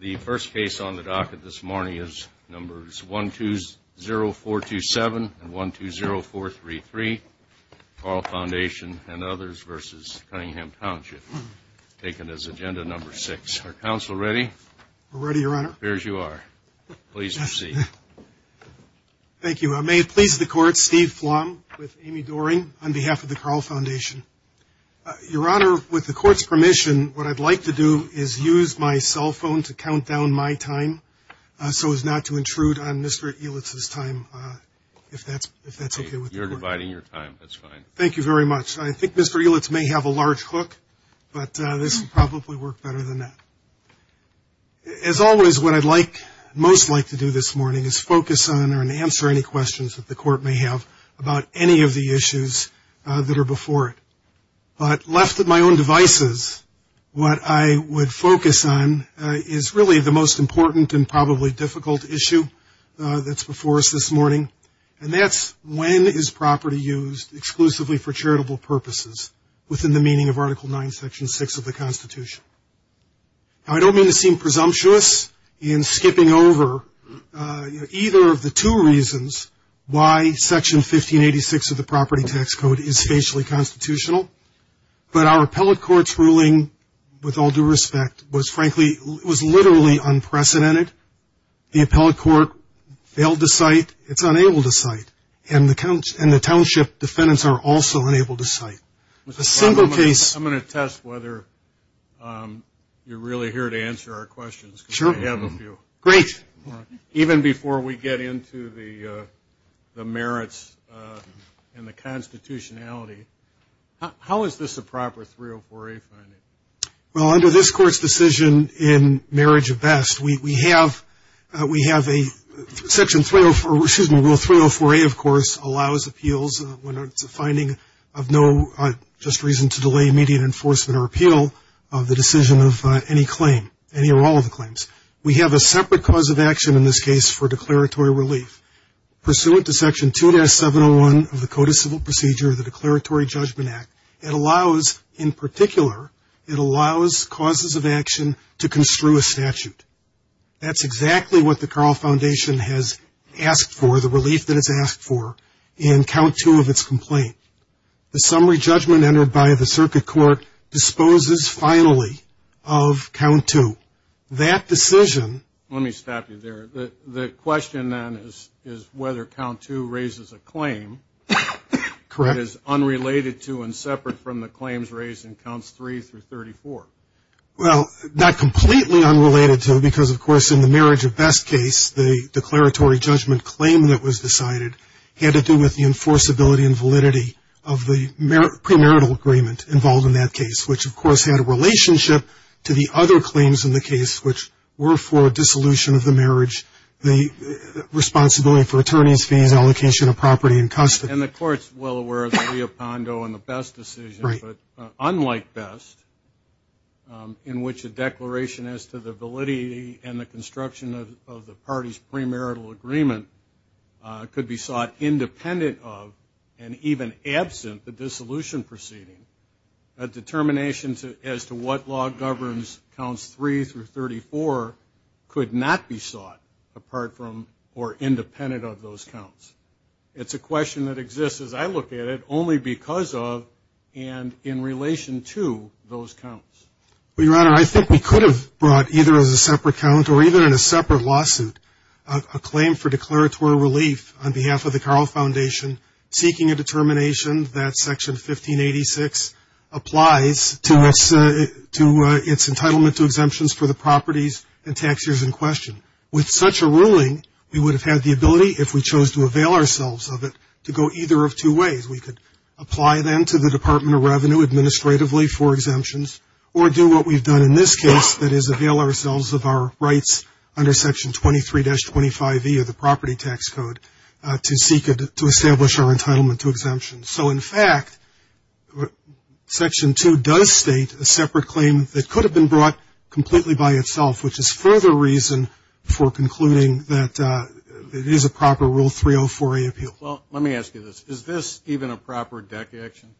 The first case on the docket this morning is numbers 120427 and 120433, Carle Foundation and others v. Cunningham Township, taken as agenda number six. Are counsel ready? We're ready, Your Honor. It appears you are. Please proceed. Thank you. May it please the Court, Steve Flom with Amy Doering on behalf of the Carle Foundation. With your permission, what I'd like to do is use my cell phone to count down my time so as not to intrude on Mr. Elitz's time, if that's okay with the Court. You're dividing your time. That's fine. Thank you very much. I think Mr. Elitz may have a large hook, but this will probably work better than that. As always, what I'd like, most like to do this morning is focus on and answer any questions that the Court may have about any of the issues that are before it. But left at my own devices, what I would focus on is really the most important and probably difficult issue that's before us this morning, and that's when is property used exclusively for charitable purposes within the meaning of Article IX, Section 6 of the Constitution. Now, I don't mean to seem presumptuous in skipping over either of the two reasons why Section 1586 of the Property Tax Code is facially constitutional, but our appellate court's ruling, with all due respect, was frankly, was literally unprecedented. The appellate court failed to cite, it's unable to cite, and the township defendants are also unable to cite. I'm going to test whether you're really here to answer our questions. Sure. I have a few. Great. Even before we get into the merits and the constitutionality, how is this a proper 304A finding? Well, under this Court's decision in Marriage of Best, we have a Section 304, excuse me, Rule 304A, of course, allows appeals when it's a finding of no just reason to delay immediate enforcement or appeal of the decision of any claim, any or all of the claims. We have a separate cause of action in this case for declaratory relief. Pursuant to Section 2-701 of the Code of Civil Procedure, the Declaratory Judgment Act, it allows, in particular, it allows causes of action to construe a statute. That's exactly what the Carl Foundation has asked for, the relief that it's asked for, in Count 2 of its complaint. The summary judgment entered by the circuit court disposes, finally, of Count 2. That decision... Let me stop you there. The question, then, is whether Count 2 raises a claim that is unrelated to and separate from the claims raised in Counts 3 through 34. Well, not completely unrelated to, because, of course, in the Marriage of Best case, the declaratory judgment claim that was decided had to do with the enforceability and validity of the premarital agreement involved in that case, which, of course, had a relationship to the other claims in the case, which were for dissolution of the marriage, the responsibility for attorney's fees, allocation of property, and custody. And the Court's well aware of the Leopondo and the Best decision, but unlike Best, in which a declaration as to the validity and the construction of the party's premarital agreement could be sought independent of and even absent the dissolution proceeding, a determination as to what law governs Counts 3 through 34 could not be sought, apart from or independent of those counts. It's a question that exists, as I look at it, only because of and in relation to those counts. Well, Your Honor, I think we could have brought either as a separate count or even in a separate lawsuit a claim for declaratory relief on behalf of the Carl Foundation seeking a determination that Section 1586 applies to its entitlement to exemptions for the properties and tax years in question. With such a ruling, we would have had the ability, if we chose to avail ourselves of it, to go either of two ways. We could apply, then, to the Department of Revenue administratively for exemptions or do what we've done in this case, that is, avail ourselves of our rights under Section 23-25e of the Property Tax Code to establish our entitlement to exemptions. So, in fact, Section 2 does state a separate claim that could have been brought completely by itself, which is further reason for concluding that it is a proper Rule 304A appeal. Well, let me ask you this. Is this even a proper DEC action,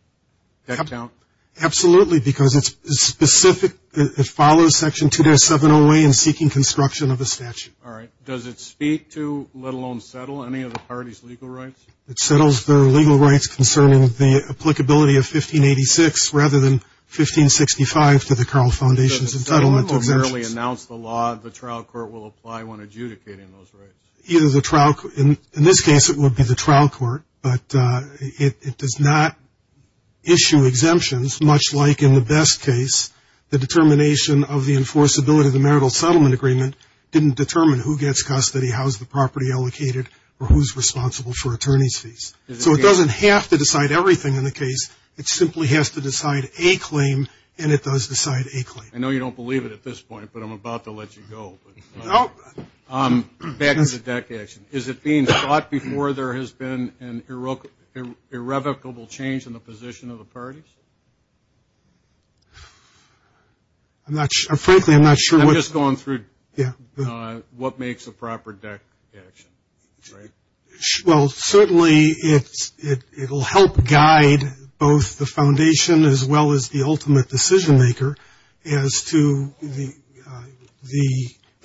DEC count? Absolutely, because it's specific. It follows Section 207-08 in seeking construction of a statute. All right. Does it speak to, let alone settle, any of the parties' legal rights? It settles their legal rights concerning the applicability of 1586 rather than 1565 to the Carl Foundation's entitlement to exemptions. Does it merely announce the law the trial court will apply when adjudicating those rights? In this case, it would be the trial court. But it does not issue exemptions, much like in the best case, the determination of the enforceability of the marital settlement agreement didn't determine who gets custody, how is the property allocated, or who is responsible for attorney's fees. So it doesn't have to decide everything in the case. It simply has to decide a claim, and it does decide a claim. I know you don't believe it at this point, but I'm about to let you go. Back to the DEC action. Is it being sought before there has been an irrevocable change in the position of the parties? Frankly, I'm not sure. I'm just going through what makes a proper DEC action. Well, certainly it will help guide both the Foundation as well as the ultimate decision maker as to the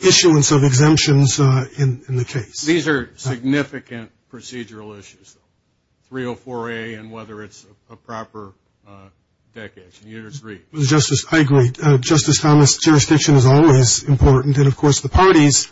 issuance of exemptions in the case. These are significant procedural issues, 304A and whether it's a proper DEC action. Do you agree? Justice, I agree. Justice Thomas, jurisdiction is always important. And, of course, the parties,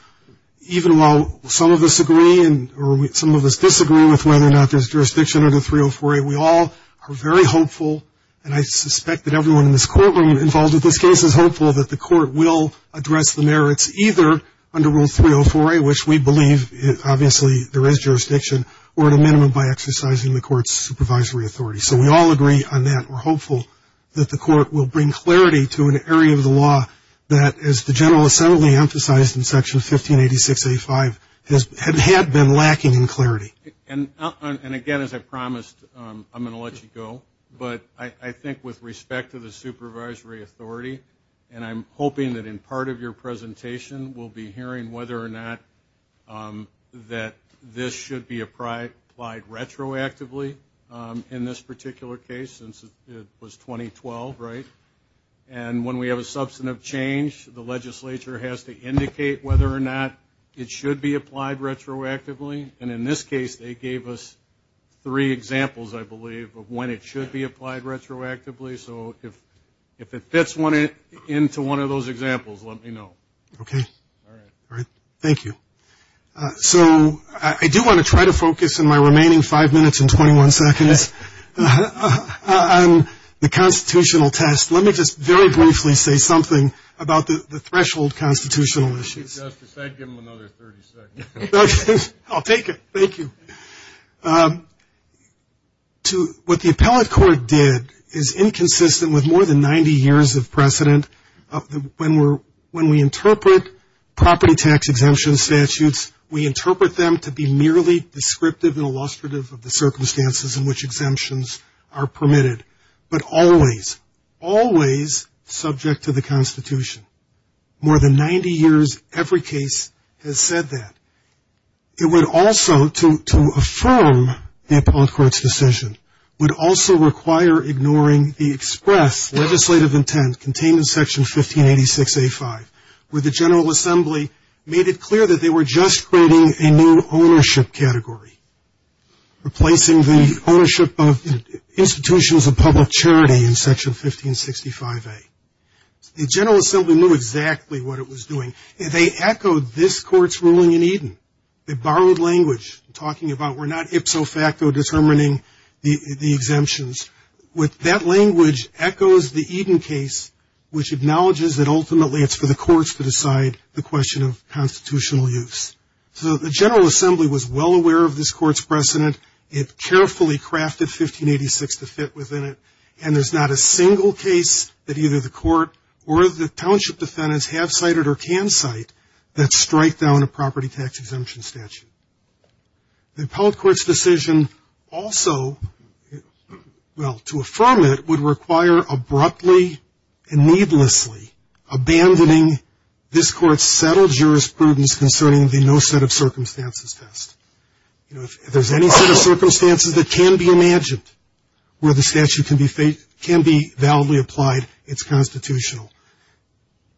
even while some of us agree or some of us disagree with whether or not there's jurisdiction under 304A, we all are very hopeful, and I suspect that everyone in this courtroom involved in this case is hopeful, that the court will address the merits either under Rule 304A, which we believe obviously there is jurisdiction, or at a minimum by exercising the court's supervisory authority. So we all agree on that. We're hopeful that the court will bring clarity to an area of the law that, as the General Assembly emphasized in Section 1586A5, had been lacking in clarity. And, again, as I promised, I'm going to let you go. But I think with respect to the supervisory authority, and I'm hoping that in part of your presentation we'll be hearing whether or not that this should be applied retroactively in this particular case, since it was 2012, right? And when we have a substantive change, the legislature has to indicate whether or not it should be applied retroactively. And in this case they gave us three examples, I believe, of when it should be applied retroactively. So if it fits into one of those examples, let me know. Okay. All right. Thank you. So I do want to try to focus in my remaining five minutes and 21 seconds on the constitutional test. Let me just very briefly say something about the threshold constitutional issues. Give him another 30 seconds. Okay. I'll take it. Thank you. What the appellate court did is inconsistent with more than 90 years of precedent. When we interpret property tax exemption statutes, we interpret them to be merely descriptive and illustrative of the circumstances in which exemptions are permitted, but always, always subject to the Constitution. More than 90 years, every case has said that. It would also, to affirm the appellate court's decision, would also require ignoring the express legislative intent contained in Section 1586A.5, where the General Assembly made it clear that they were just creating a new ownership category, replacing the ownership of institutions of public charity in Section 1565A. The General Assembly knew exactly what it was doing. They borrowed language, talking about we're not ipso facto determining the exemptions. That language echoes the Eden case, which acknowledges that ultimately it's for the courts to decide the question of constitutional use. So the General Assembly was well aware of this court's precedent. It carefully crafted 1586 to fit within it, and there's not a single case that either the court or the township defendants have cited or can cite that strike down a property tax exemption statute. The appellate court's decision also, well, to affirm it, would require abruptly and needlessly abandoning this court's settled jurisprudence concerning the no set of circumstances test. You know, if there's any set of circumstances that can be imagined where the statute can be validly applied, it's constitutional.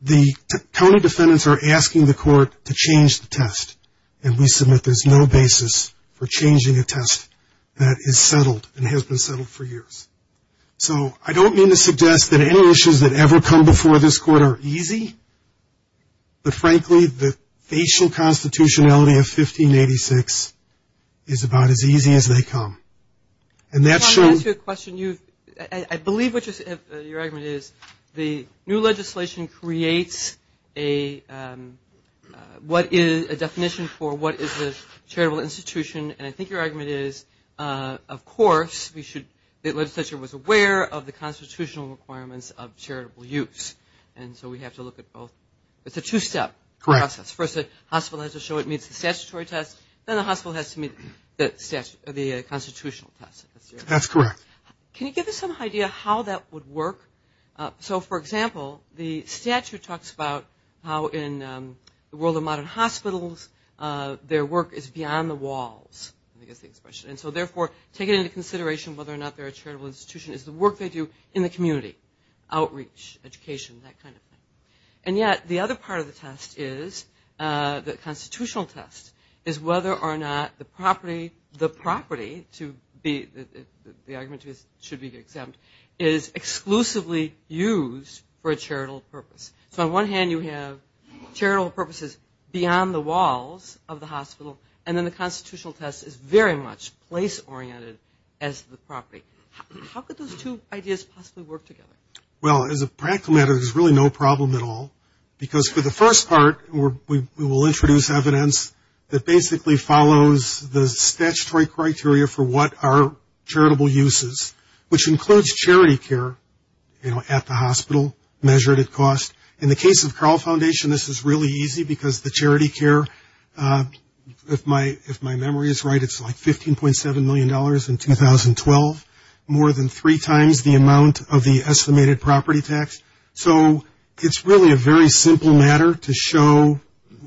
The county defendants are asking the court to change the test, and we submit there's no basis for changing a test that is settled and has been settled for years. So I don't mean to suggest that any issues that ever come before this court are easy, but frankly the facial constitutionality of 1586 is about as easy as they come. I want to ask you a question. I believe your argument is the new legislation creates a definition for what is a charitable institution, and I think your argument is, of course, the legislature was aware of the constitutional requirements of charitable use, and so we have to look at both. It's a two-step process. First, the hospital has to show it meets the statutory test, then the hospital has to meet the constitutional test. That's correct. Can you give us some idea how that would work? So, for example, the statute talks about how in the world of modern hospitals, their work is beyond the walls, I guess the expression, and so therefore taking into consideration whether or not they're a charitable institution is the work they do in the community, outreach, education, that kind of thing. And yet the other part of the test is, the constitutional test, is whether or not the property to be, the argument should be exempt, is exclusively used for a charitable purpose. So on one hand you have charitable purposes beyond the walls of the hospital, and then the constitutional test is very much place-oriented as the property. How could those two ideas possibly work together? Well, as a practical matter, there's really no problem at all, because for the first part we will introduce evidence that basically follows the statutory criteria for what are charitable uses, which includes charity care, you know, at the hospital, measured at cost. In the case of Carle Foundation, this is really easy because the charity care, if my memory is right, it's like $15.7 million in 2012, more than three times the amount of the estimated property tax. So it's really a very simple matter to show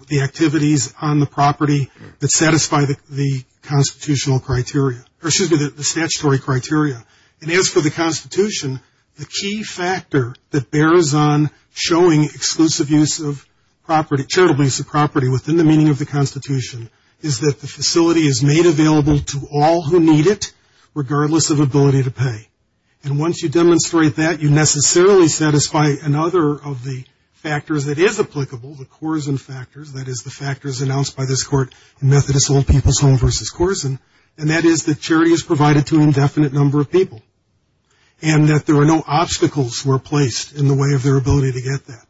the activities on the property that satisfy the constitutional criteria, or excuse me, the statutory criteria. And as for the Constitution, the key factor that bears on showing exclusive use of property, charitable use of property within the meaning of the Constitution, is that the facility is made available to all who need it, regardless of ability to pay. And once you demonstrate that, you necessarily satisfy another of the factors that is applicable, the Korsen factors, that is the factors announced by this court in Methodist Old People's Home v. Korsen, and that is that charity is provided to an indefinite number of people, and that there are no obstacles were placed in the way of their ability to get that.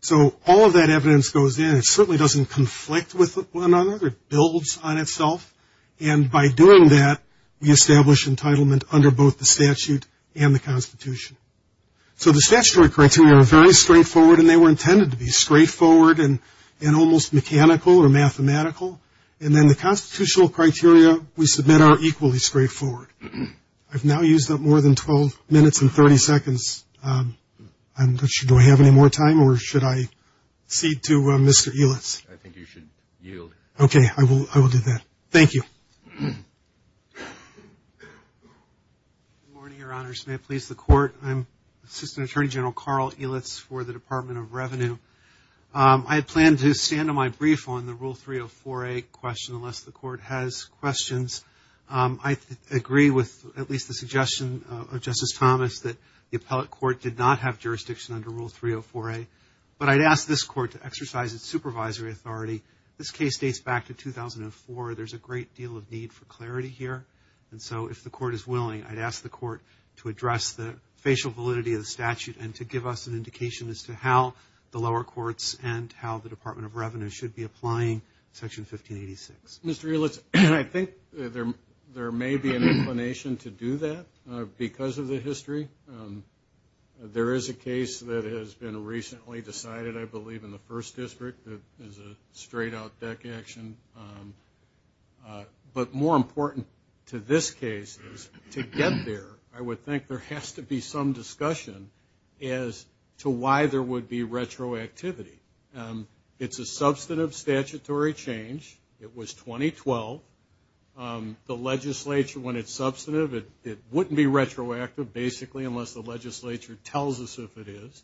So all of that evidence goes in. It certainly doesn't conflict with one another. It builds on itself. And by doing that, we establish entitlement under both the statute and the Constitution. So the statutory criteria are very straightforward, and they were intended to be straightforward and almost mechanical or mathematical. And then the constitutional criteria, we submit, are equally straightforward. I've now used up more than 12 minutes and 30 seconds. Do I have any more time, or should I cede to Mr. Ehlitz? I think you should yield. Okay, I will do that. Thank you. Good morning, Your Honors. May it please the Court. I'm Assistant Attorney General Carl Ehlitz for the Department of Revenue. I plan to stand on my brief on the Rule 304A question unless the Court has questions. I agree with at least the suggestion of Justice Thomas that the appellate court did not have jurisdiction under Rule 304A, but I'd ask this court to exercise its supervisory authority. This case dates back to 2004. There's a great deal of need for clarity here. And so if the Court is willing, I'd ask the Court to address the facial validity of the statute and to give us an indication as to how the lower courts and how the Department of Revenue should be applying Section 1586. Mr. Ehlitz, I think there may be an inclination to do that because of the history. There is a case that has been recently decided, I believe, in the First District that is a straight-out deck action. But more important to this case is to get there, I would think there has to be some discussion as to why there would be retroactivity. It's a substantive statutory change. It was 2012. The legislature, when it's substantive, it wouldn't be retroactive, basically, unless the legislature tells us if it is.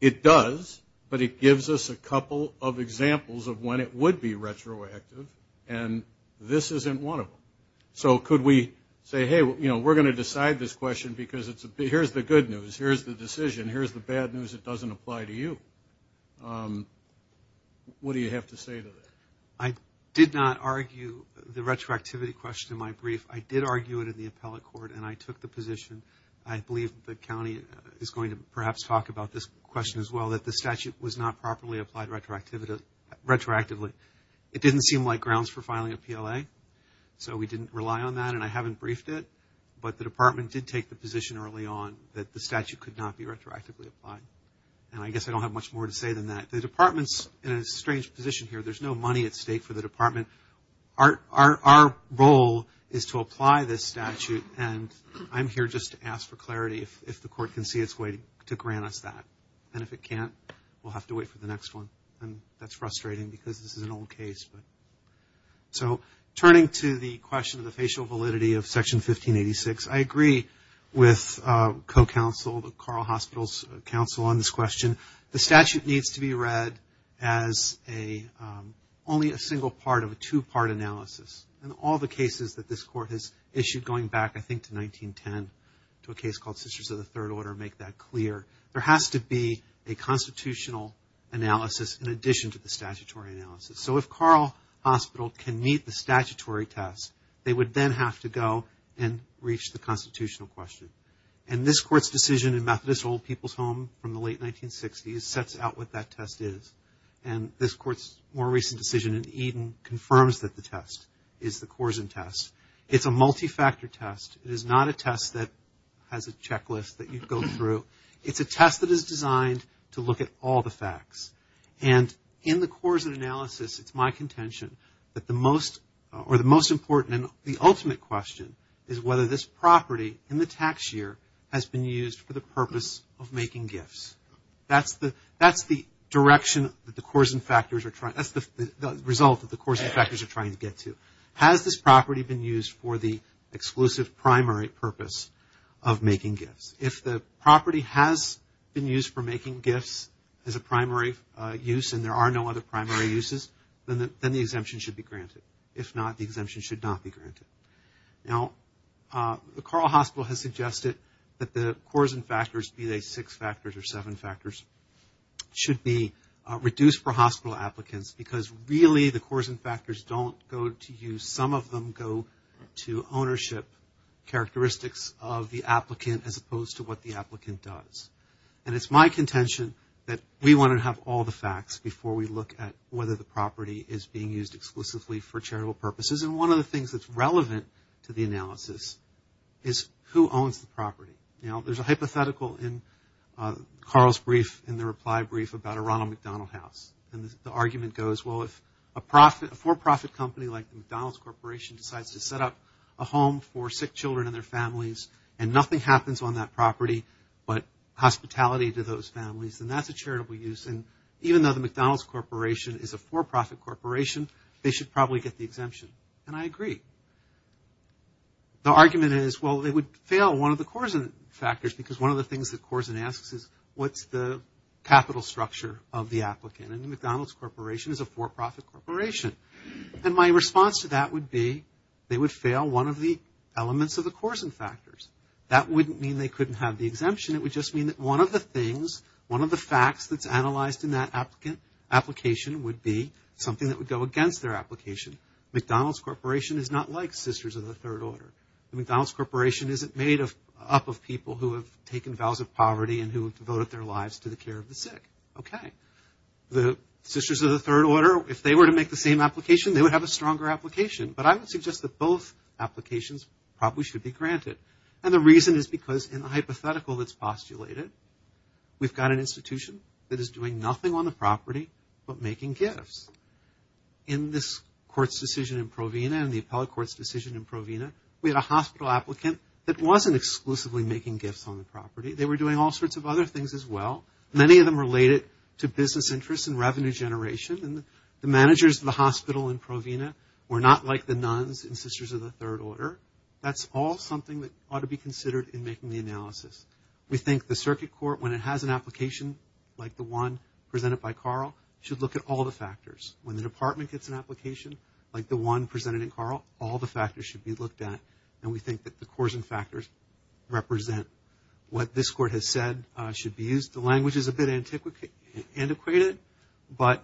It does, but it gives us a couple of examples of when it would be retroactive, and this isn't one of them. So could we say, hey, you know, we're going to decide this question because here's the good news, here's the decision, here's the bad news, it doesn't apply to you. What do you have to say to that? I did not argue the retroactivity question in my brief. I did argue it in the appellate court, and I took the position. I believe the county is going to perhaps talk about this question as well, that the statute was not properly applied retroactively. It didn't seem like grounds for filing a PLA, so we didn't rely on that, and I haven't briefed it, but the department did take the position early on that the statute could not be retroactively applied, and I guess I don't have much more to say than that. The department's in a strange position here. There's no money at stake for the department. Our role is to apply this statute, and I'm here just to ask for clarity if the court can see its way to grant us that, and if it can't, we'll have to wait for the next one, and that's frustrating because this is an old case. So turning to the question of the facial validity of Section 1586, I agree with co-counsel, Carl Hospital's counsel, on this question. The statute needs to be read as only a single part of a two-part analysis, and all the cases that this court has issued going back, I think, to 1910, to a case called Sisters of the Third Order make that clear. There has to be a constitutional analysis in addition to the statutory analysis. So if Carl Hospital can meet the statutory test, they would then have to go and reach the constitutional question, and this court's decision in Methodist Old People's Home from the late 1960s sets out what that test is, and this court's more recent decision in Eden confirms that the test is the Korsen test. It's a multi-factor test. It is not a test that has a checklist that you go through. It's a test that is designed to look at all the facts, and in the Korsen analysis, it's my contention that the most important and the ultimate question is whether this property in the tax year has been used for the purpose of making gifts. That's the result that the Korsen factors are trying to get to. Has this property been used for the exclusive primary purpose of making gifts? If the property has been used for making gifts as a primary use and there are no other primary uses, then the exemption should be granted. If not, the exemption should not be granted. Now, the Carl Hospital has suggested that the Korsen factors, be they six factors or seven factors, should be reduced for hospital applicants because really the Korsen factors don't go to use. Some of them go to ownership characteristics of the applicant as opposed to what the applicant does, and it's my contention that we want to have all the facts before we look at whether the property is being used exclusively for charitable purposes, and one of the things that's relevant to the analysis is who owns the property. Now, there's a hypothetical in Carl's brief in the reply brief about a Ronald McDonald house, and the argument goes, well, if a for-profit company like the McDonald's Corporation decides to set up a home for sick children and their families and nothing happens on that property but hospitality to those families, then that's a charitable use, and even though the McDonald's Corporation is a for-profit corporation, they should probably get the exemption, and I agree. The argument is, well, they would fail one of the Korsen factors because one of the things that Korsen asks is what's the capital structure of the applicant, and the McDonald's Corporation is a for-profit corporation, and my response to that would be they would fail one of the elements of the Korsen factors. That wouldn't mean they couldn't have the exemption. It would just mean that one of the things, one of the facts that's analyzed in that application would be something that would go against their application. McDonald's Corporation is not like Sisters of the Third Order. The McDonald's Corporation isn't made up of people who have taken vows of poverty and who have devoted their lives to the care of the sick. Okay. The Sisters of the Third Order, if they were to make the same application, they would have a stronger application, but I would suggest that both applications probably should be granted, and the reason is because in the hypothetical that's postulated, we've got an institution that is doing nothing on the property but making gifts. In this court's decision in Provena, in the appellate court's decision in Provena, we had a hospital applicant that wasn't exclusively making gifts on the property. They were doing all sorts of other things as well, many of them related to business interests and revenue generation, and the managers of the hospital in Provena were not like the nuns in Sisters of the Third Order. That's all something that ought to be considered in making the analysis. We think the circuit court, when it has an application like the one presented by Carl, should look at all the factors. When the department gets an application like the one presented in Carl, all the factors should be looked at, and we think that the Korsen factors represent what this court has said should be used. The language is a bit antiquated, but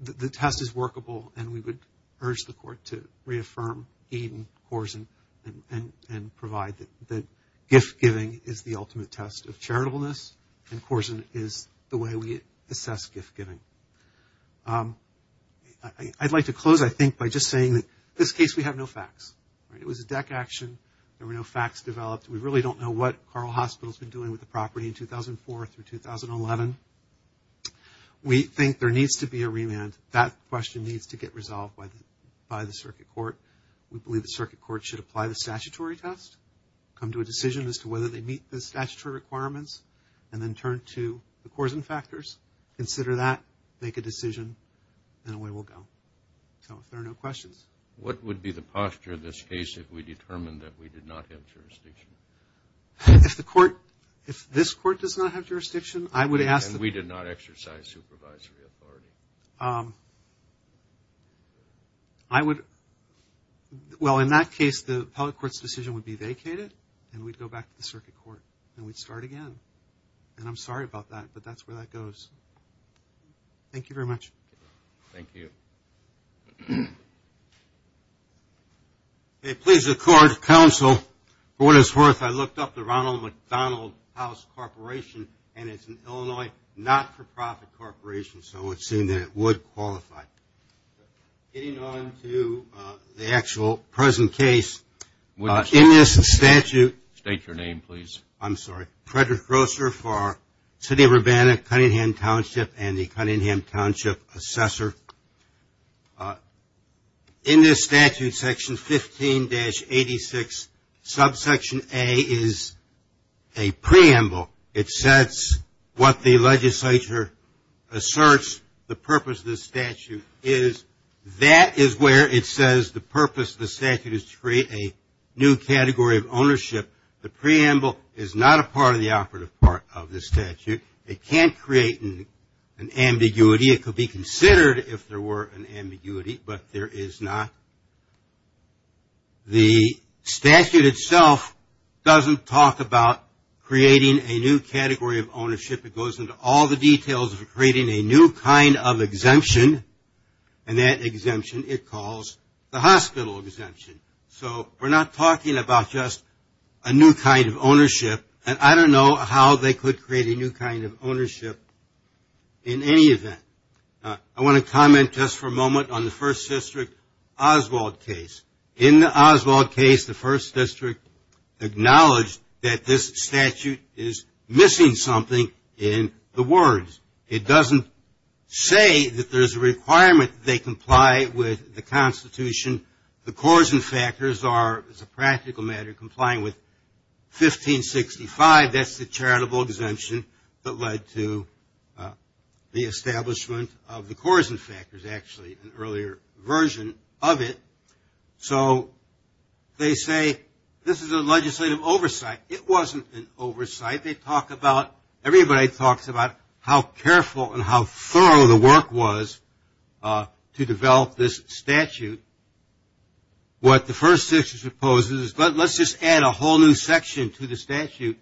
the test is workable, and we would urge the court to reaffirm Eden, Korsen, and provide that gift-giving is the ultimate test of charitableness, and Korsen is the way we assess gift-giving. I'd like to close, I think, by just saying that in this case we have no facts. It was a deck action. There were no facts developed. We really don't know what Carl Hospital has been doing with the property in 2004 through 2011. We think there needs to be a remand. That question needs to get resolved by the circuit court. We believe the circuit court should apply the statutory test, come to a decision as to whether they meet the statutory requirements, and then turn to the Korsen factors, consider that, make a decision, and away we'll go. So if there are no questions. What would be the posture of this case if we determined that we did not have jurisdiction? If the court, if this court does not have jurisdiction, I would ask the We did not exercise supervisory authority. Well, in that case, the appellate court's decision would be vacated, and we'd go back to the circuit court, and we'd start again. And I'm sorry about that, but that's where that goes. Thank you very much. Thank you. If I looked up the Ronald McDonald House Corporation, and it's an Illinois not-for-profit corporation, so it would seem that it would qualify. Getting on to the actual present case, in this statute. State your name, please. I'm sorry. Frederick Grosser for City of Urbana-Cunningham Township and the Cunningham Township Assessor. In this statute, section 15-86, subsection A is a preamble. It says what the legislature asserts the purpose of this statute is. That is where it says the purpose of the statute is to create a new category of ownership. The preamble is not a part of the operative part of the statute. It can't create an ambiguity. Maybe it could be considered if there were an ambiguity, but there is not. The statute itself doesn't talk about creating a new category of ownership. It goes into all the details of creating a new kind of exemption, and that exemption it calls the hospital exemption. So we're not talking about just a new kind of ownership, and I don't know how they could create a new kind of ownership in any event. I want to comment just for a moment on the First District Oswald case. In the Oswald case, the First District acknowledged that this statute is missing something in the words. It doesn't say that there's a requirement that they comply with the Constitution. The coarsen factors are, as a practical matter, complying with 1565. That's the charitable exemption that led to the establishment of the coarsen factors, actually an earlier version of it. So they say this is a legislative oversight. It wasn't an oversight. Everybody talks about how careful and how thorough the work was to develop this statute. What the First District proposes is let's just add a whole new section to the statute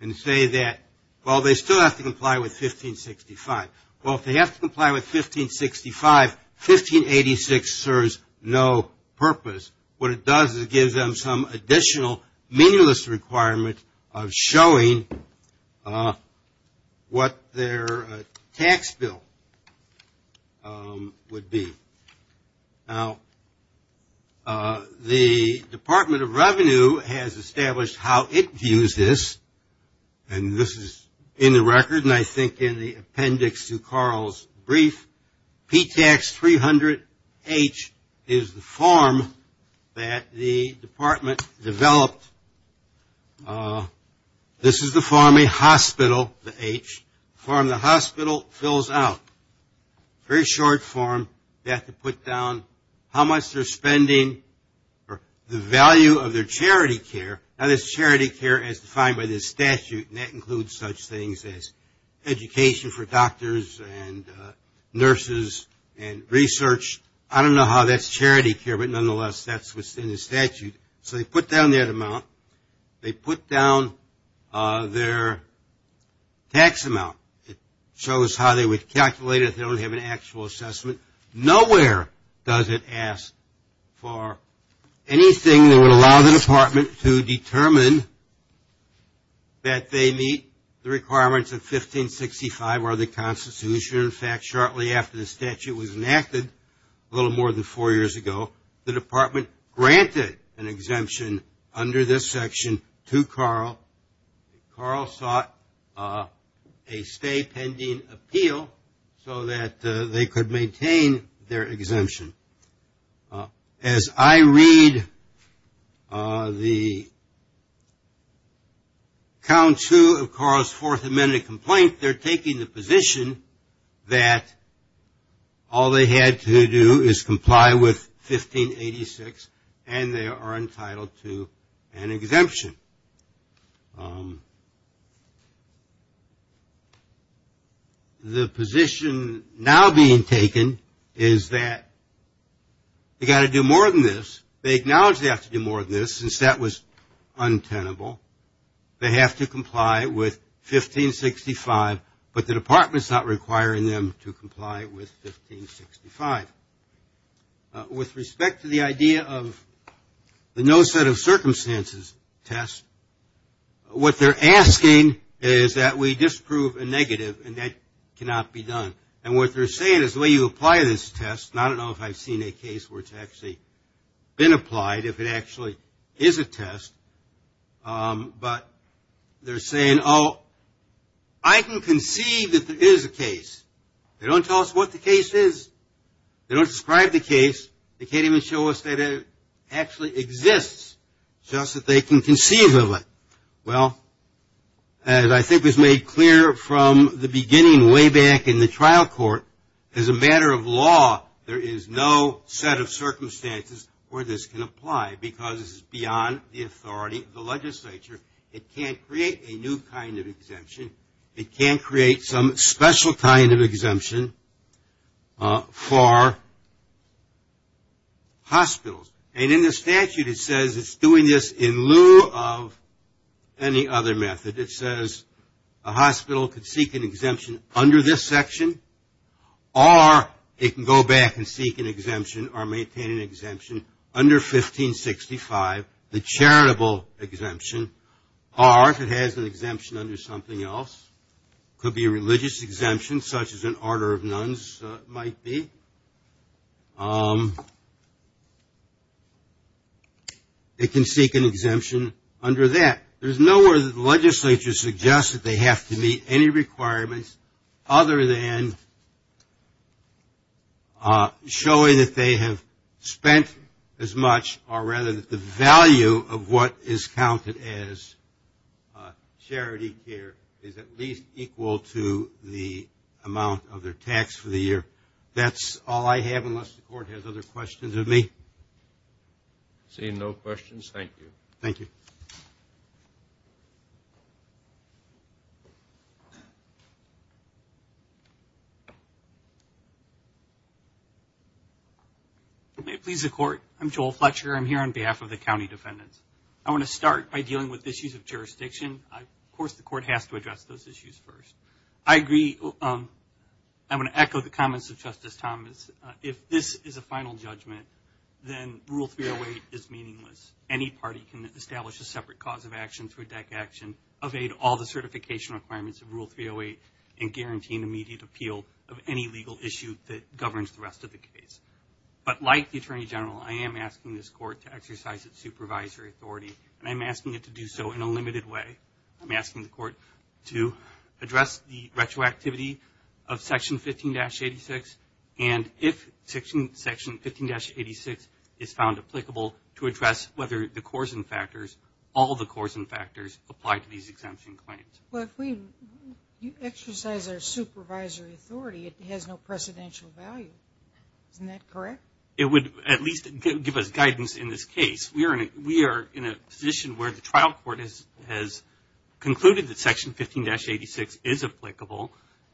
and say that, well, they still have to comply with 1565. Well, if they have to comply with 1565, 1586 serves no purpose. What it does is it gives them some additional meaningless requirement of showing what their tax bill would be. Now, the Department of Revenue has established how it views this, and this is in the record and I think in the appendix to Carl's brief. P-Tax 300-H is the form that the department developed. This is the form a hospital, the H, the form the hospital fills out. Very short form. You have to put down how much they're spending for the value of their charity care. Now, there's charity care as defined by this statute, and that includes such things as education for doctors and nurses and research. I don't know how that's charity care, but nonetheless, that's what's in the statute. So they put down that amount. They put down their tax amount. It shows how they would calculate it if they don't have an actual assessment. Nowhere does it ask for anything that would allow the department to determine that they meet the requirements of 1565 or the Constitution. In fact, shortly after the statute was enacted, a little more than four years ago, the department granted an exemption under this section to Carl. Carl sought a stay pending appeal so that they could maintain their exemption. As I read the count two of Carl's Fourth Amendment complaint, they're taking the position that all they had to do is comply with 1586 and they are entitled to an exemption. The position now being taken is that they've got to do more than this. They acknowledge they have to do more than this since that was untenable. They have to comply with 1565, but the department's not requiring them to comply with 1565. With respect to the idea of the no set of circumstances test, what they're asking is that we disprove a negative and that cannot be done. And what they're saying is the way you apply this test, and I don't know if I've seen a case where it's actually been applied, if it actually is a test, but they're saying, oh, I can conceive that there is a case. They don't tell us what the case is. They don't describe the case. They can't even show us that it actually exists, just that they can conceive of it. Well, as I think was made clear from the beginning way back in the trial court, as a matter of law, there is no set of circumstances where this can apply because it's beyond the authority of the legislature. It can't create a new kind of exemption. It can't create some special kind of exemption for hospitals. And in the statute it says it's doing this in lieu of any other method. It says a hospital can seek an exemption under this section or it can go back and seek an exemption or maintain an exemption under 1565, the charitable exemption, or if it has an exemption under something else, it could be a religious exemption, such as an order of nuns might be. It can seek an exemption under that. There's no way that the legislature suggests that they have to meet any requirements other than showing that they have spent as much or rather that the value of what is counted as charity care is at least equal to the amount of their tax for the year. That's all I have unless the court has other questions of me. Seeing no questions, thank you. Thank you. May it please the court. I'm Joel Fletcher. I'm here on behalf of the county defendants. I want to start by dealing with issues of jurisdiction. Of course the court has to address those issues first. I agree. I want to echo the comments of Justice Thomas. If this is a final judgment, then Rule 308 is meaningless. Any party can establish a separate cause of action through a deck action, evade all the certification requirements of Rule 308, and guarantee an immediate appeal of any legal issue that governs the rest of the case. But like the Attorney General, I am asking this court to exercise its supervisory authority, and I'm asking it to do so in a limited way. I'm asking the court to address the retroactivity of Section 15-86, and if Section 15-86 is found applicable, to address whether the coarsen factors, all the coarsen factors apply to these exemption claims. Well, if we exercise our supervisory authority, it has no precedential value. Isn't that correct? It would at least give us guidance in this case. We are in a position where the trial court has concluded that Section 15-86 is applicable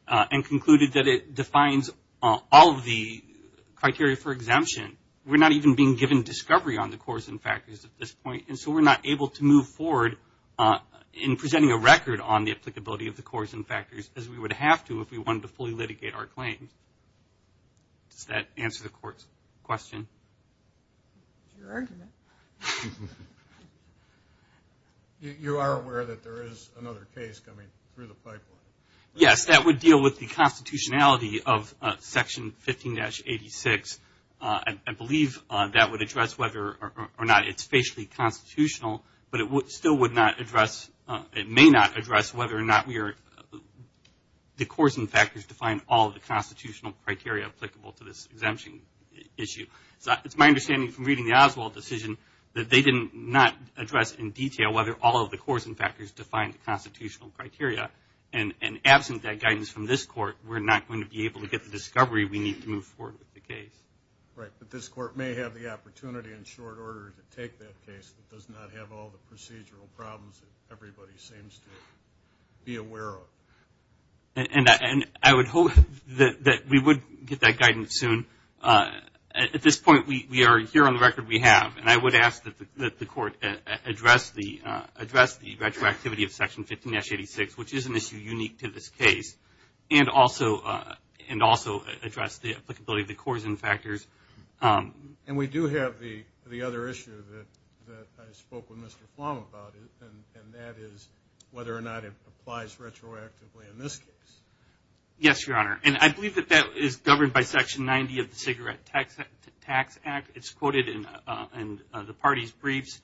and concluded that it defines all of the criteria for exemption. We're not even being given discovery on the coarsen factors at this point, and so we're not able to move forward in presenting a record on the applicability of the coarsen factors as we would have to if we wanted to fully litigate our claims. Does that answer the court's question? Your argument. You are aware that there is another case coming through the pipeline? Yes, that would deal with the constitutionality of Section 15-86. I believe that would address whether or not it's facially constitutional, but it still would not address, it may not address whether or not we are, the coarsen factors define all of the constitutional criteria applicable to this exemption issue. It's my understanding from reading the Oswald decision that they did not address in detail whether all of the coarsen factors define the constitutional criteria, and absent that guidance from this court, we're not going to be able to get the discovery we need to move forward with the case. Right, but this court may have the opportunity in short order to take that case that does not have all the procedural problems that everybody seems to be aware of. And I would hope that we would get that guidance soon. At this point, we are here on the record we have, and I would ask that the court address the retroactivity of Section 15-86, which is an issue unique to this case, and also address the applicability of the coarsen factors. And we do have the other issue that I spoke with Mr. Plum about, and that is whether or not it applies retroactively in this case. Yes, Your Honor, and I believe that that is governed by Section 90 of the Cigarette Tax Act. It's quoted in the party's briefs.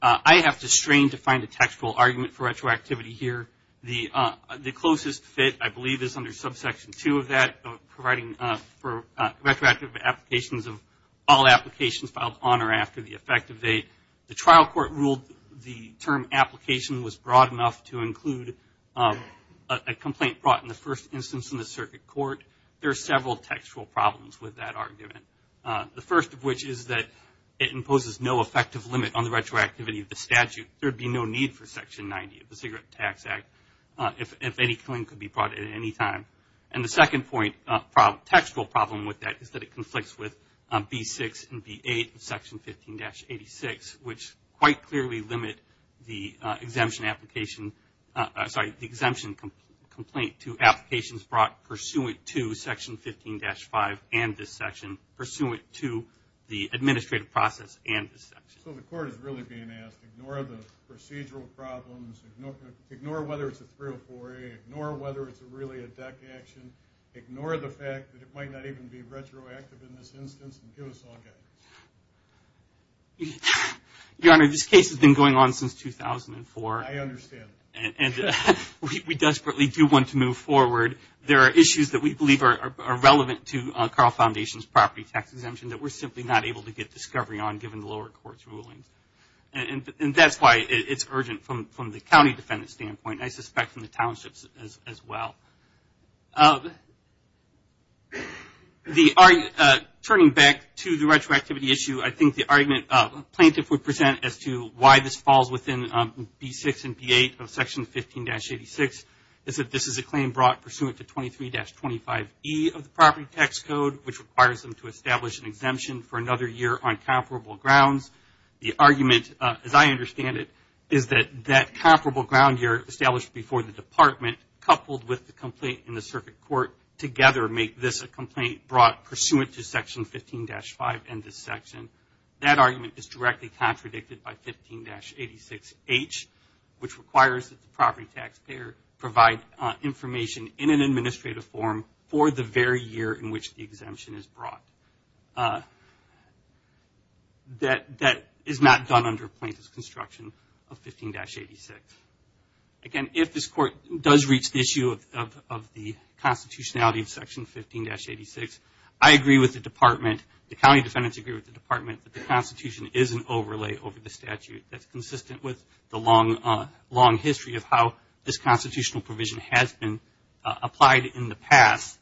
I have to strain to find a textual argument for retroactivity here. The closest fit, I believe, is under Subsection 2 of that, providing for retroactive applications of all applications filed on or after the effective date. The trial court ruled the term application was broad enough to include a complaint brought in the first instance in the circuit court. There are several textual problems with that argument. The first of which is that it imposes no effective limit on the retroactivity of the statute. There would be no need for Section 90 of the Cigarette Tax Act if any claim could be brought at any time. And the second point, textual problem with that, is that it conflicts with B-6 and B-8 of Section 15-86, which quite clearly limit the exemption application, sorry, the exemption complaint to applications brought pursuant to Section 15-5 and this section, pursuant to the administrative process and this section. So the court is really being asked to ignore the procedural problems, ignore whether it's a 304A, ignore whether it's really a DEC action, ignore the fact that it might not even be retroactive in this instance, and give us all guidance. Your Honor, this case has been going on since 2004. I understand. And we desperately do want to move forward. There are issues that we believe are relevant to Carl Foundation's property tax exemption that we're simply not able to get discovery on given the lower court's rulings. And that's why it's urgent from the county defendant standpoint, and I suspect from the townships as well. Turning back to the retroactivity issue, I think the argument a plaintiff would present as to why this falls within B-6 and B-8 of Section 15-86 is that this is a claim brought pursuant to 23-25E of the property tax code, which requires them to establish an exemption for another year on comparable grounds. The argument, as I understand it, is that that comparable ground year established before the Department, coupled with the complaint in the circuit court, together make this a complaint brought pursuant to Section 15-5 and this section. That argument is directly contradicted by 15-86H, which requires that the property taxpayer provide information in an administrative form for the very year in which the exemption is brought. That is not done under plaintiff's construction of 15-86. Again, if this court does reach the issue of the constitutionality of Section 15-86, I agree with the Department, the county defendants agree with the Department, that the Constitution is an overlay over the statute that's consistent with the long history of how this constitutional provision has been applied in the past.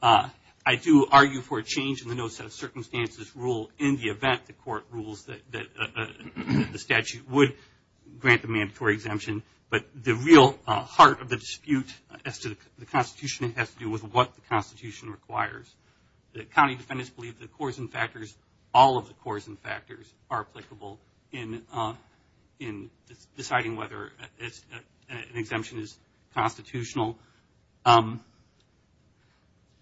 I do argue for a change in the no set of circumstances rule in the event the court rules that the statute would grant the mandatory exemption, but the real heart of the dispute as to the Constitution has to do with what the Constitution requires. The county defendants believe the coarsen factors, all of the coarsen factors, are applicable in deciding whether an exemption is constitutional.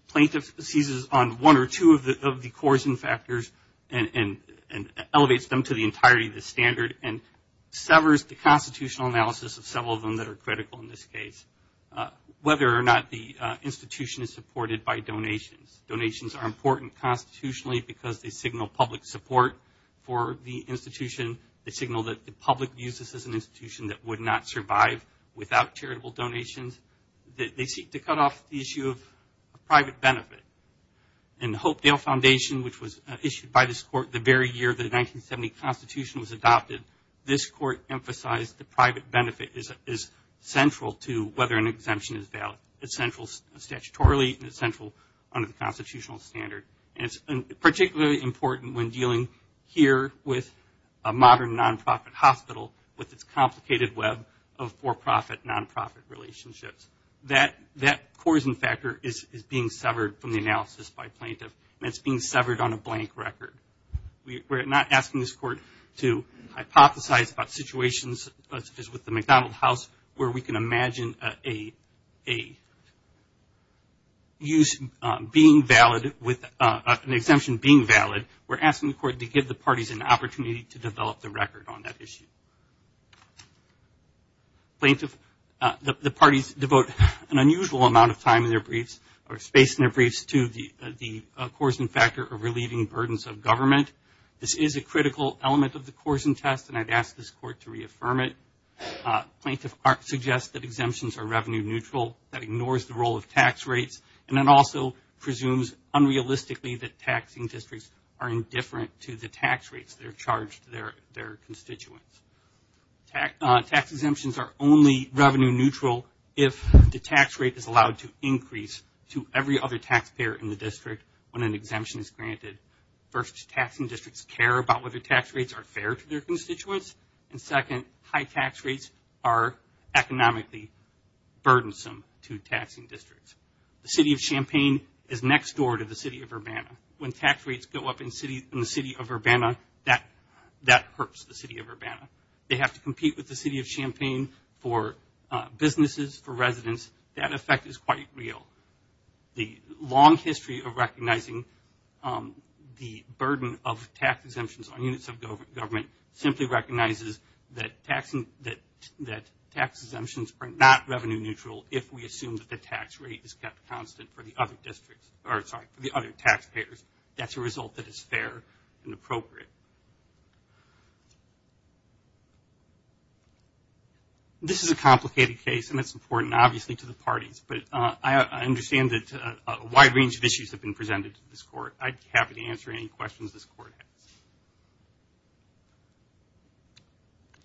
Plaintiff seizes on one or two of the coarsen factors and elevates them to the entirety of the standard and severs the constitutional analysis of several of them that are critical in this case, whether or not the institution is supported by donations. Donations are important constitutionally because they signal public support for the institution, they signal that the public views this as an institution that would not survive without charitable donations. They seek to cut off the issue of private benefit. In the Hopedale Foundation, which was issued by this court the very year the 1970 Constitution was adopted, this court emphasized the private benefit is central to whether an exemption is valid. It's central statutorily and it's central under the constitutional standard. And it's particularly important when dealing here with a modern non-profit hospital with its complicated web of for-profit, non-profit relationships. That coarsen factor is being severed from the analysis by plaintiff and it's being severed on a blank record. We're not asking this court to hypothesize about situations such as with the McDonald House where we can imagine a use being valid with an exemption being valid. We're asking the court to give the parties an opportunity to develop the record on that issue. The parties devote an unusual amount of time in their briefs or space in their briefs to the coarsen factor of relieving burdens of government. This is a critical element of the coarsen test and I'd ask this court to reaffirm it. Plaintiff suggests that exemptions are revenue neutral, that ignores the role of tax rates and then also presumes unrealistically that taxing districts are indifferent to the tax rates that are charged to their constituents. Tax exemptions are only revenue neutral if the tax rate is allowed to increase to every other taxpayer in the district when an exemption is granted. First, taxing districts care about whether tax rates are fair to their constituents and second, high tax rates are economically burdensome to taxing districts. The city of Champaign is next door to the city of Urbana. When tax rates go up in the city of Urbana, that hurts the city of Urbana. They have to compete with the city of Champaign for businesses, for residents. That effect is quite real. The long history of recognizing the burden of tax exemptions on units of government simply recognizes that tax exemptions are not revenue neutral if we assume that the tax rate is kept constant for the other tax payers. That's a result that is fair and appropriate. This is a complicated case and it's important obviously to the parties, but I understand that a wide range of issues have been presented to this court. I'd be happy to answer any questions this court has.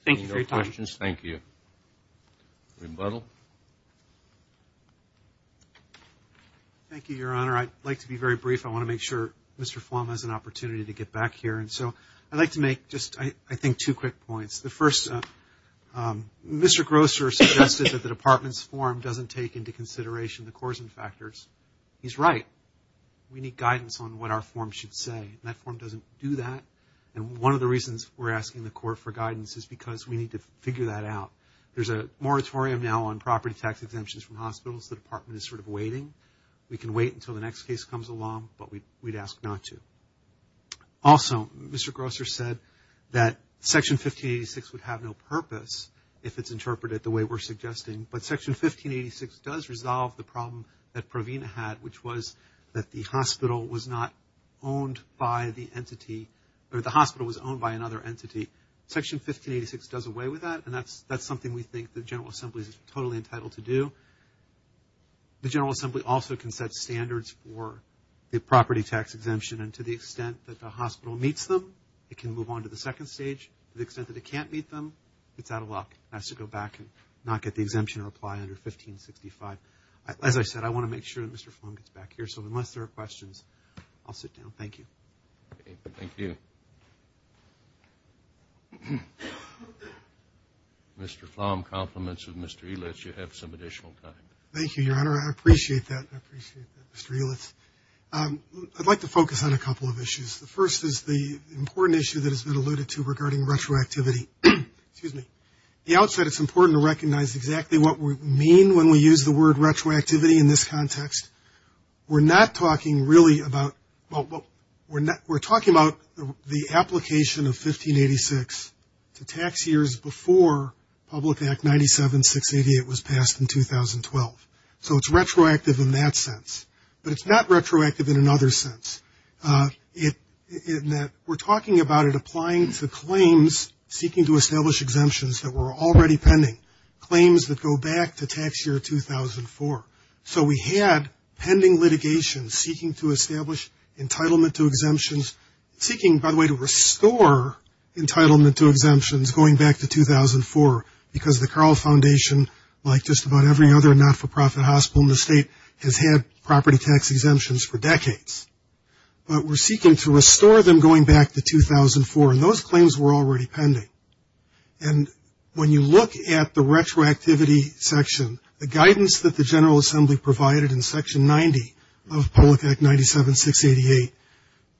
Thank you for your time. If there are no questions, thank you. Rebuttal. Thank you, Your Honor. I'd like to be very brief. I want to make sure Mr. Flom has an opportunity to get back here. So I'd like to make just I think two quick points. The first, Mr. Grosser suggested that the department's form doesn't take into consideration the coarsen factors. He's right. We need guidance on what our form should say, and that form doesn't do that. And one of the reasons we're asking the court for guidance is because we need to figure that out. There's a moratorium now on property tax exemptions from hospitals. The department is sort of waiting. We can wait until the next case comes along, but we'd ask not to. Also, Mr. Grosser said that Section 1586 would have no purpose if it's interpreted the way we're suggesting, but Section 1586 does resolve the problem that Provena had, which was that the hospital was owned by another entity. Section 1586 does away with that, and that's something we think the General Assembly is totally entitled to do. The General Assembly also can set standards for the property tax exemption, and to the extent that the hospital meets them, it can move on to the second stage. To the extent that it can't meet them, it's out of luck. It has to go back and not get the exemption or apply under 1565. As I said, I want to make sure that Mr. Flom gets back here. So unless there are questions, I'll sit down. Thank you. Thank you. Mr. Flom, compliments of Mr. Elitz. You have some additional time. Thank you, Your Honor. I appreciate that. I appreciate that, Mr. Elitz. I'd like to focus on a couple of issues. The first is the important issue that has been alluded to regarding retroactivity. The outset, it's important to recognize exactly what we mean when we use the word retroactivity in this context. We're talking about the application of 1586 to tax years before Public Act 97-688 was passed in 2012. So it's retroactive in that sense. But it's not retroactive in another sense, in that we're talking about it applying to claims seeking to establish exemptions that were already pending, claims that go back to tax year 2004. So we had pending litigation seeking to establish entitlement to exemptions, seeking, by the way, to restore entitlement to exemptions going back to 2004, because the Carle Foundation, like just about every other not-for-profit hospital in the state, has had property tax exemptions for decades. But we're seeking to restore them going back to 2004, and those claims were already pending. And when you look at the retroactivity section, the guidance that the General Assembly provided in Section 90 of Public Act 97-688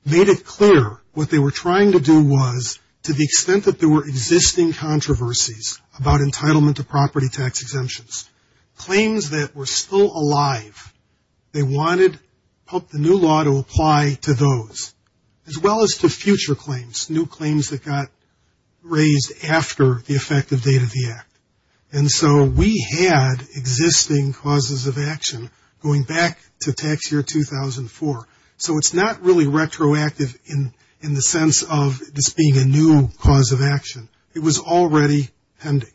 made it clear what they were trying to do was, to the extent that there were existing controversies about entitlement to property tax exemptions, claims that were still alive, they wanted the new law to apply to those, as well as to future claims, new claims that got raised after the effective date of the Act. And so we had existing causes of action going back to tax year 2004. So it's not really retroactive in the sense of this being a new cause of action. It was already pending.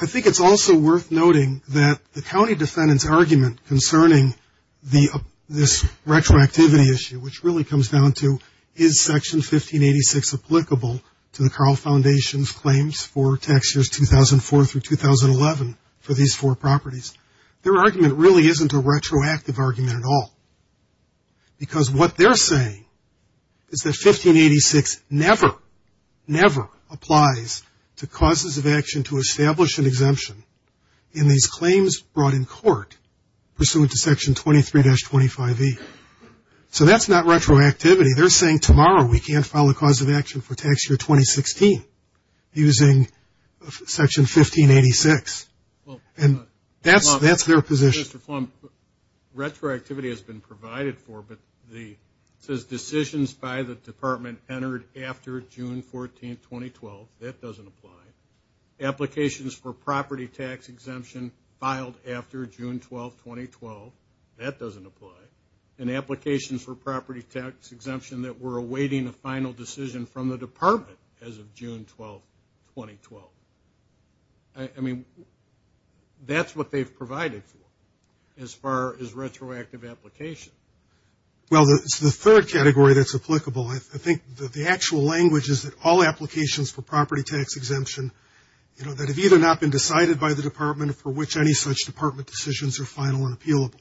I think it's also worth noting that the county defendant's argument concerning this retroactivity issue, which really comes down to, is Section 1586 applicable to the Carle Foundation's claims for tax years 2004 through 2011 for these four properties? Their argument really isn't a retroactive argument at all, because what they're saying is that 1586 never, never applies to causes of action to establish an exemption in these claims brought in court pursuant to Section 23-25E. So that's not retroactivity. They're saying tomorrow we can't file a cause of action for tax year 2016 using Section 1586. And that's their position. Mr. Flom, retroactivity has been provided for, but it says decisions by the Department entered after June 14, 2012. That doesn't apply. Applications for property tax exemption filed after June 12, 2012. That doesn't apply. And applications for property tax exemption that were awaiting a final decision from the Department as of June 12, 2012. I mean, that's what they've provided for as far as retroactive application. Well, it's the third category that's applicable. I think that the actual language is that all applications for property tax exemption, you know, that have either not been decided by the Department for which any such Department decisions are final and appealable.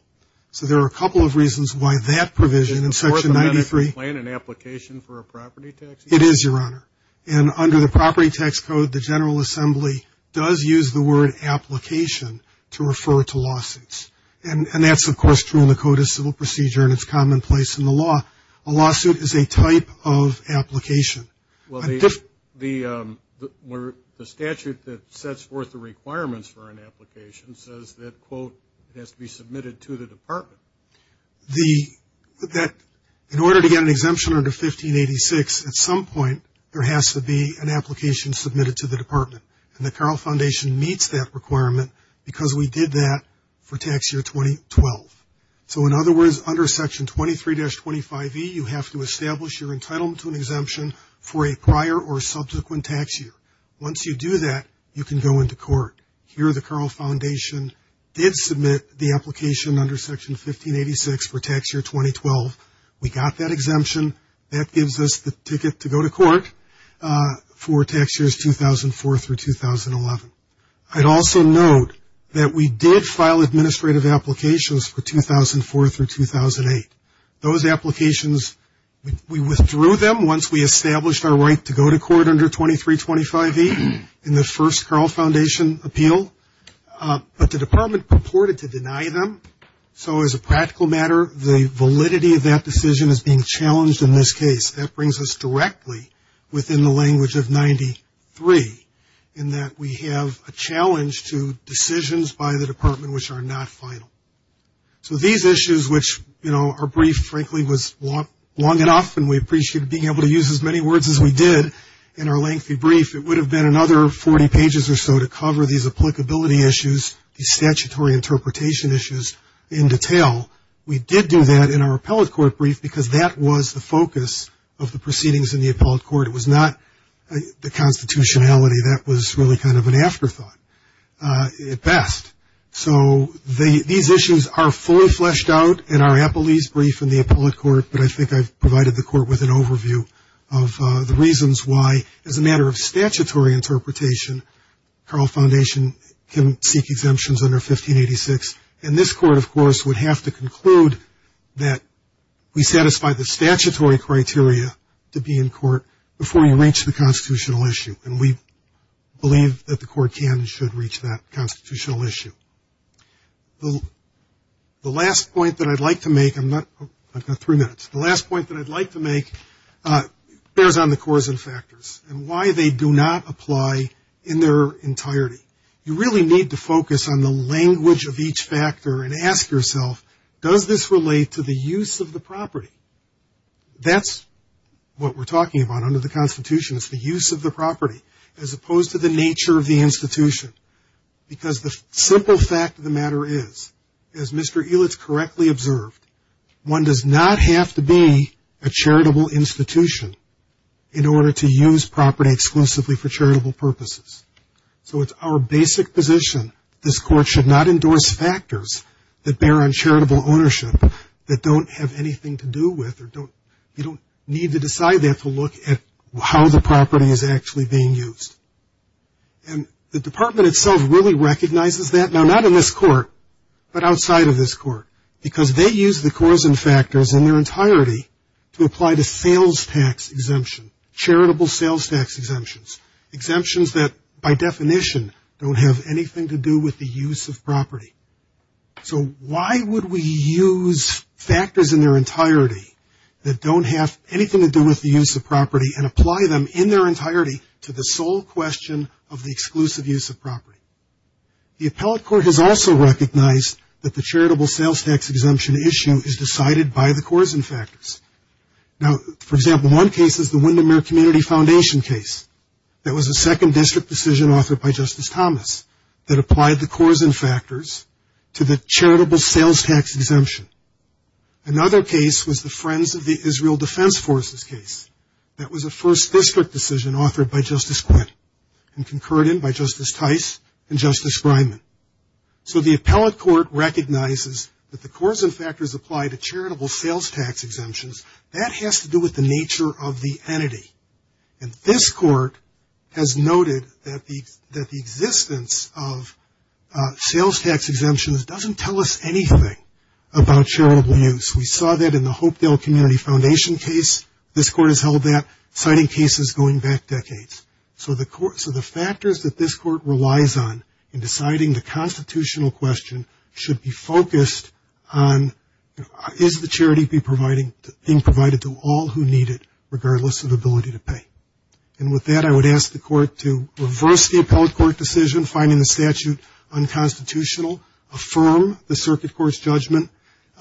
So there are a couple of reasons why that provision in Section 93. Does the Department plan an application for a property tax exemption? It is, Your Honor. And under the property tax code, the General Assembly does use the word application to refer to lawsuits. And that's, of course, true in the Code of Civil Procedure, and it's commonplace in the law. A lawsuit is a type of application. Well, the statute that sets forth the requirements for an application says that, quote, it has to be submitted to the Department. In order to get an exemption under 1586, at some point, there has to be an application submitted to the Department. And the Carle Foundation meets that requirement because we did that for tax year 2012. So, in other words, under Section 23-25e, you have to establish your entitlement to an exemption for a prior or subsequent tax year. Once you do that, you can go into court. Here, the Carle Foundation did submit the application under Section 1586 for tax year 2012. We got that exemption. That gives us the ticket to go to court for tax years 2004 through 2011. I'd also note that we did file administrative applications for 2004 through 2008. Those applications, we withdrew them once we established our right to go to court under 23-25e. And the first Carle Foundation appeal. But the Department purported to deny them. So, as a practical matter, the validity of that decision is being challenged in this case. That brings us directly within the language of 93, in that we have a challenge to decisions by the Department which are not final. So, these issues, which, you know, our brief, frankly, was long enough, and we appreciate being able to use as many words as we did in our lengthy brief, it would have been another 40 pages or so to cover these applicability issues, these statutory interpretation issues in detail. We did do that in our appellate court brief because that was the focus of the proceedings in the appellate court. It was not the constitutionality. That was really kind of an afterthought at best. So, these issues are fully fleshed out in our appellee's brief in the appellate court, but I think I've provided the court with an overview of the reasons why, as a matter of statutory interpretation, Carle Foundation can seek exemptions under 1586. And this court, of course, would have to conclude that we satisfy the statutory criteria to be in court before we reach the constitutional issue. And we believe that the court can and should reach that constitutional issue. The last point that I'd like to make, I've got three minutes, the last point that I'd like to make bears on the cause and factors and why they do not apply in their entirety. You really need to focus on the language of each factor and ask yourself, does this relate to the use of the property? That's what we're talking about under the constitution is the use of the property, as opposed to the nature of the institution. Because the simple fact of the matter is, as Mr. Elitz correctly observed, one does not have to be a charitable institution in order to use property exclusively for charitable purposes. So, it's our basic position this court should not endorse factors that bear on charitable ownership that don't have anything to do with or you don't need to decide that to look at how the property is actually being used. And the department itself really recognizes that. Now, not in this court, but outside of this court, because they use the cause and factors in their entirety to apply to sales tax exemption, charitable sales tax exemptions, exemptions that by definition don't have anything to do with the use of property. So, why would we use factors in their entirety that don't have anything to do with the use of property and apply them in their entirety to the sole question of the exclusive use of property? The appellate court has also recognized that the charitable sales tax exemption issue is decided by the cause and factors. Now, for example, one case is the Windermere Community Foundation case. That was a second district decision authored by Justice Thomas that applied the cause and factors to the charitable sales tax exemption. Another case was the Friends of the Israel Defense Forces case. That was a first district decision authored by Justice Quinn and concurred in by Justice Tice and Justice Grineman. So, the appellate court recognizes that the cause and factors apply to charitable sales tax exemptions. That has to do with the nature of the entity. And this court has noted that the existence of sales tax exemptions doesn't tell us anything about charitable use. We saw that in the Hopedale Community Foundation case. This court has held that, citing cases going back decades. So, the factors that this court relies on in deciding the constitutional question should be focused on is the charity being provided to all who need it, regardless of the ability to pay. And with that, I would ask the court to reverse the appellate court decision, finding the statute unconstitutional, affirm the circuit court's judgment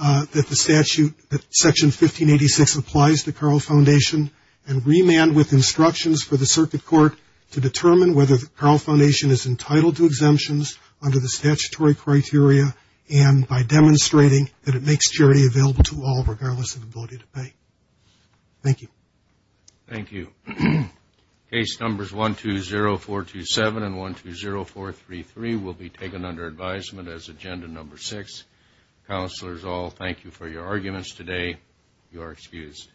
that the statute, Section 1586, applies to Carle Foundation, and remand with instructions for the circuit court to determine whether Carle Foundation is entitled to exemptions under the statutory criteria and by demonstrating that it makes charity available to all, regardless of the ability to pay. Thank you. Thank you. Case numbers 120427 and 120433 will be taken under advisement as agenda number 6. Counselors, I'll thank you for your arguments today. You are excused.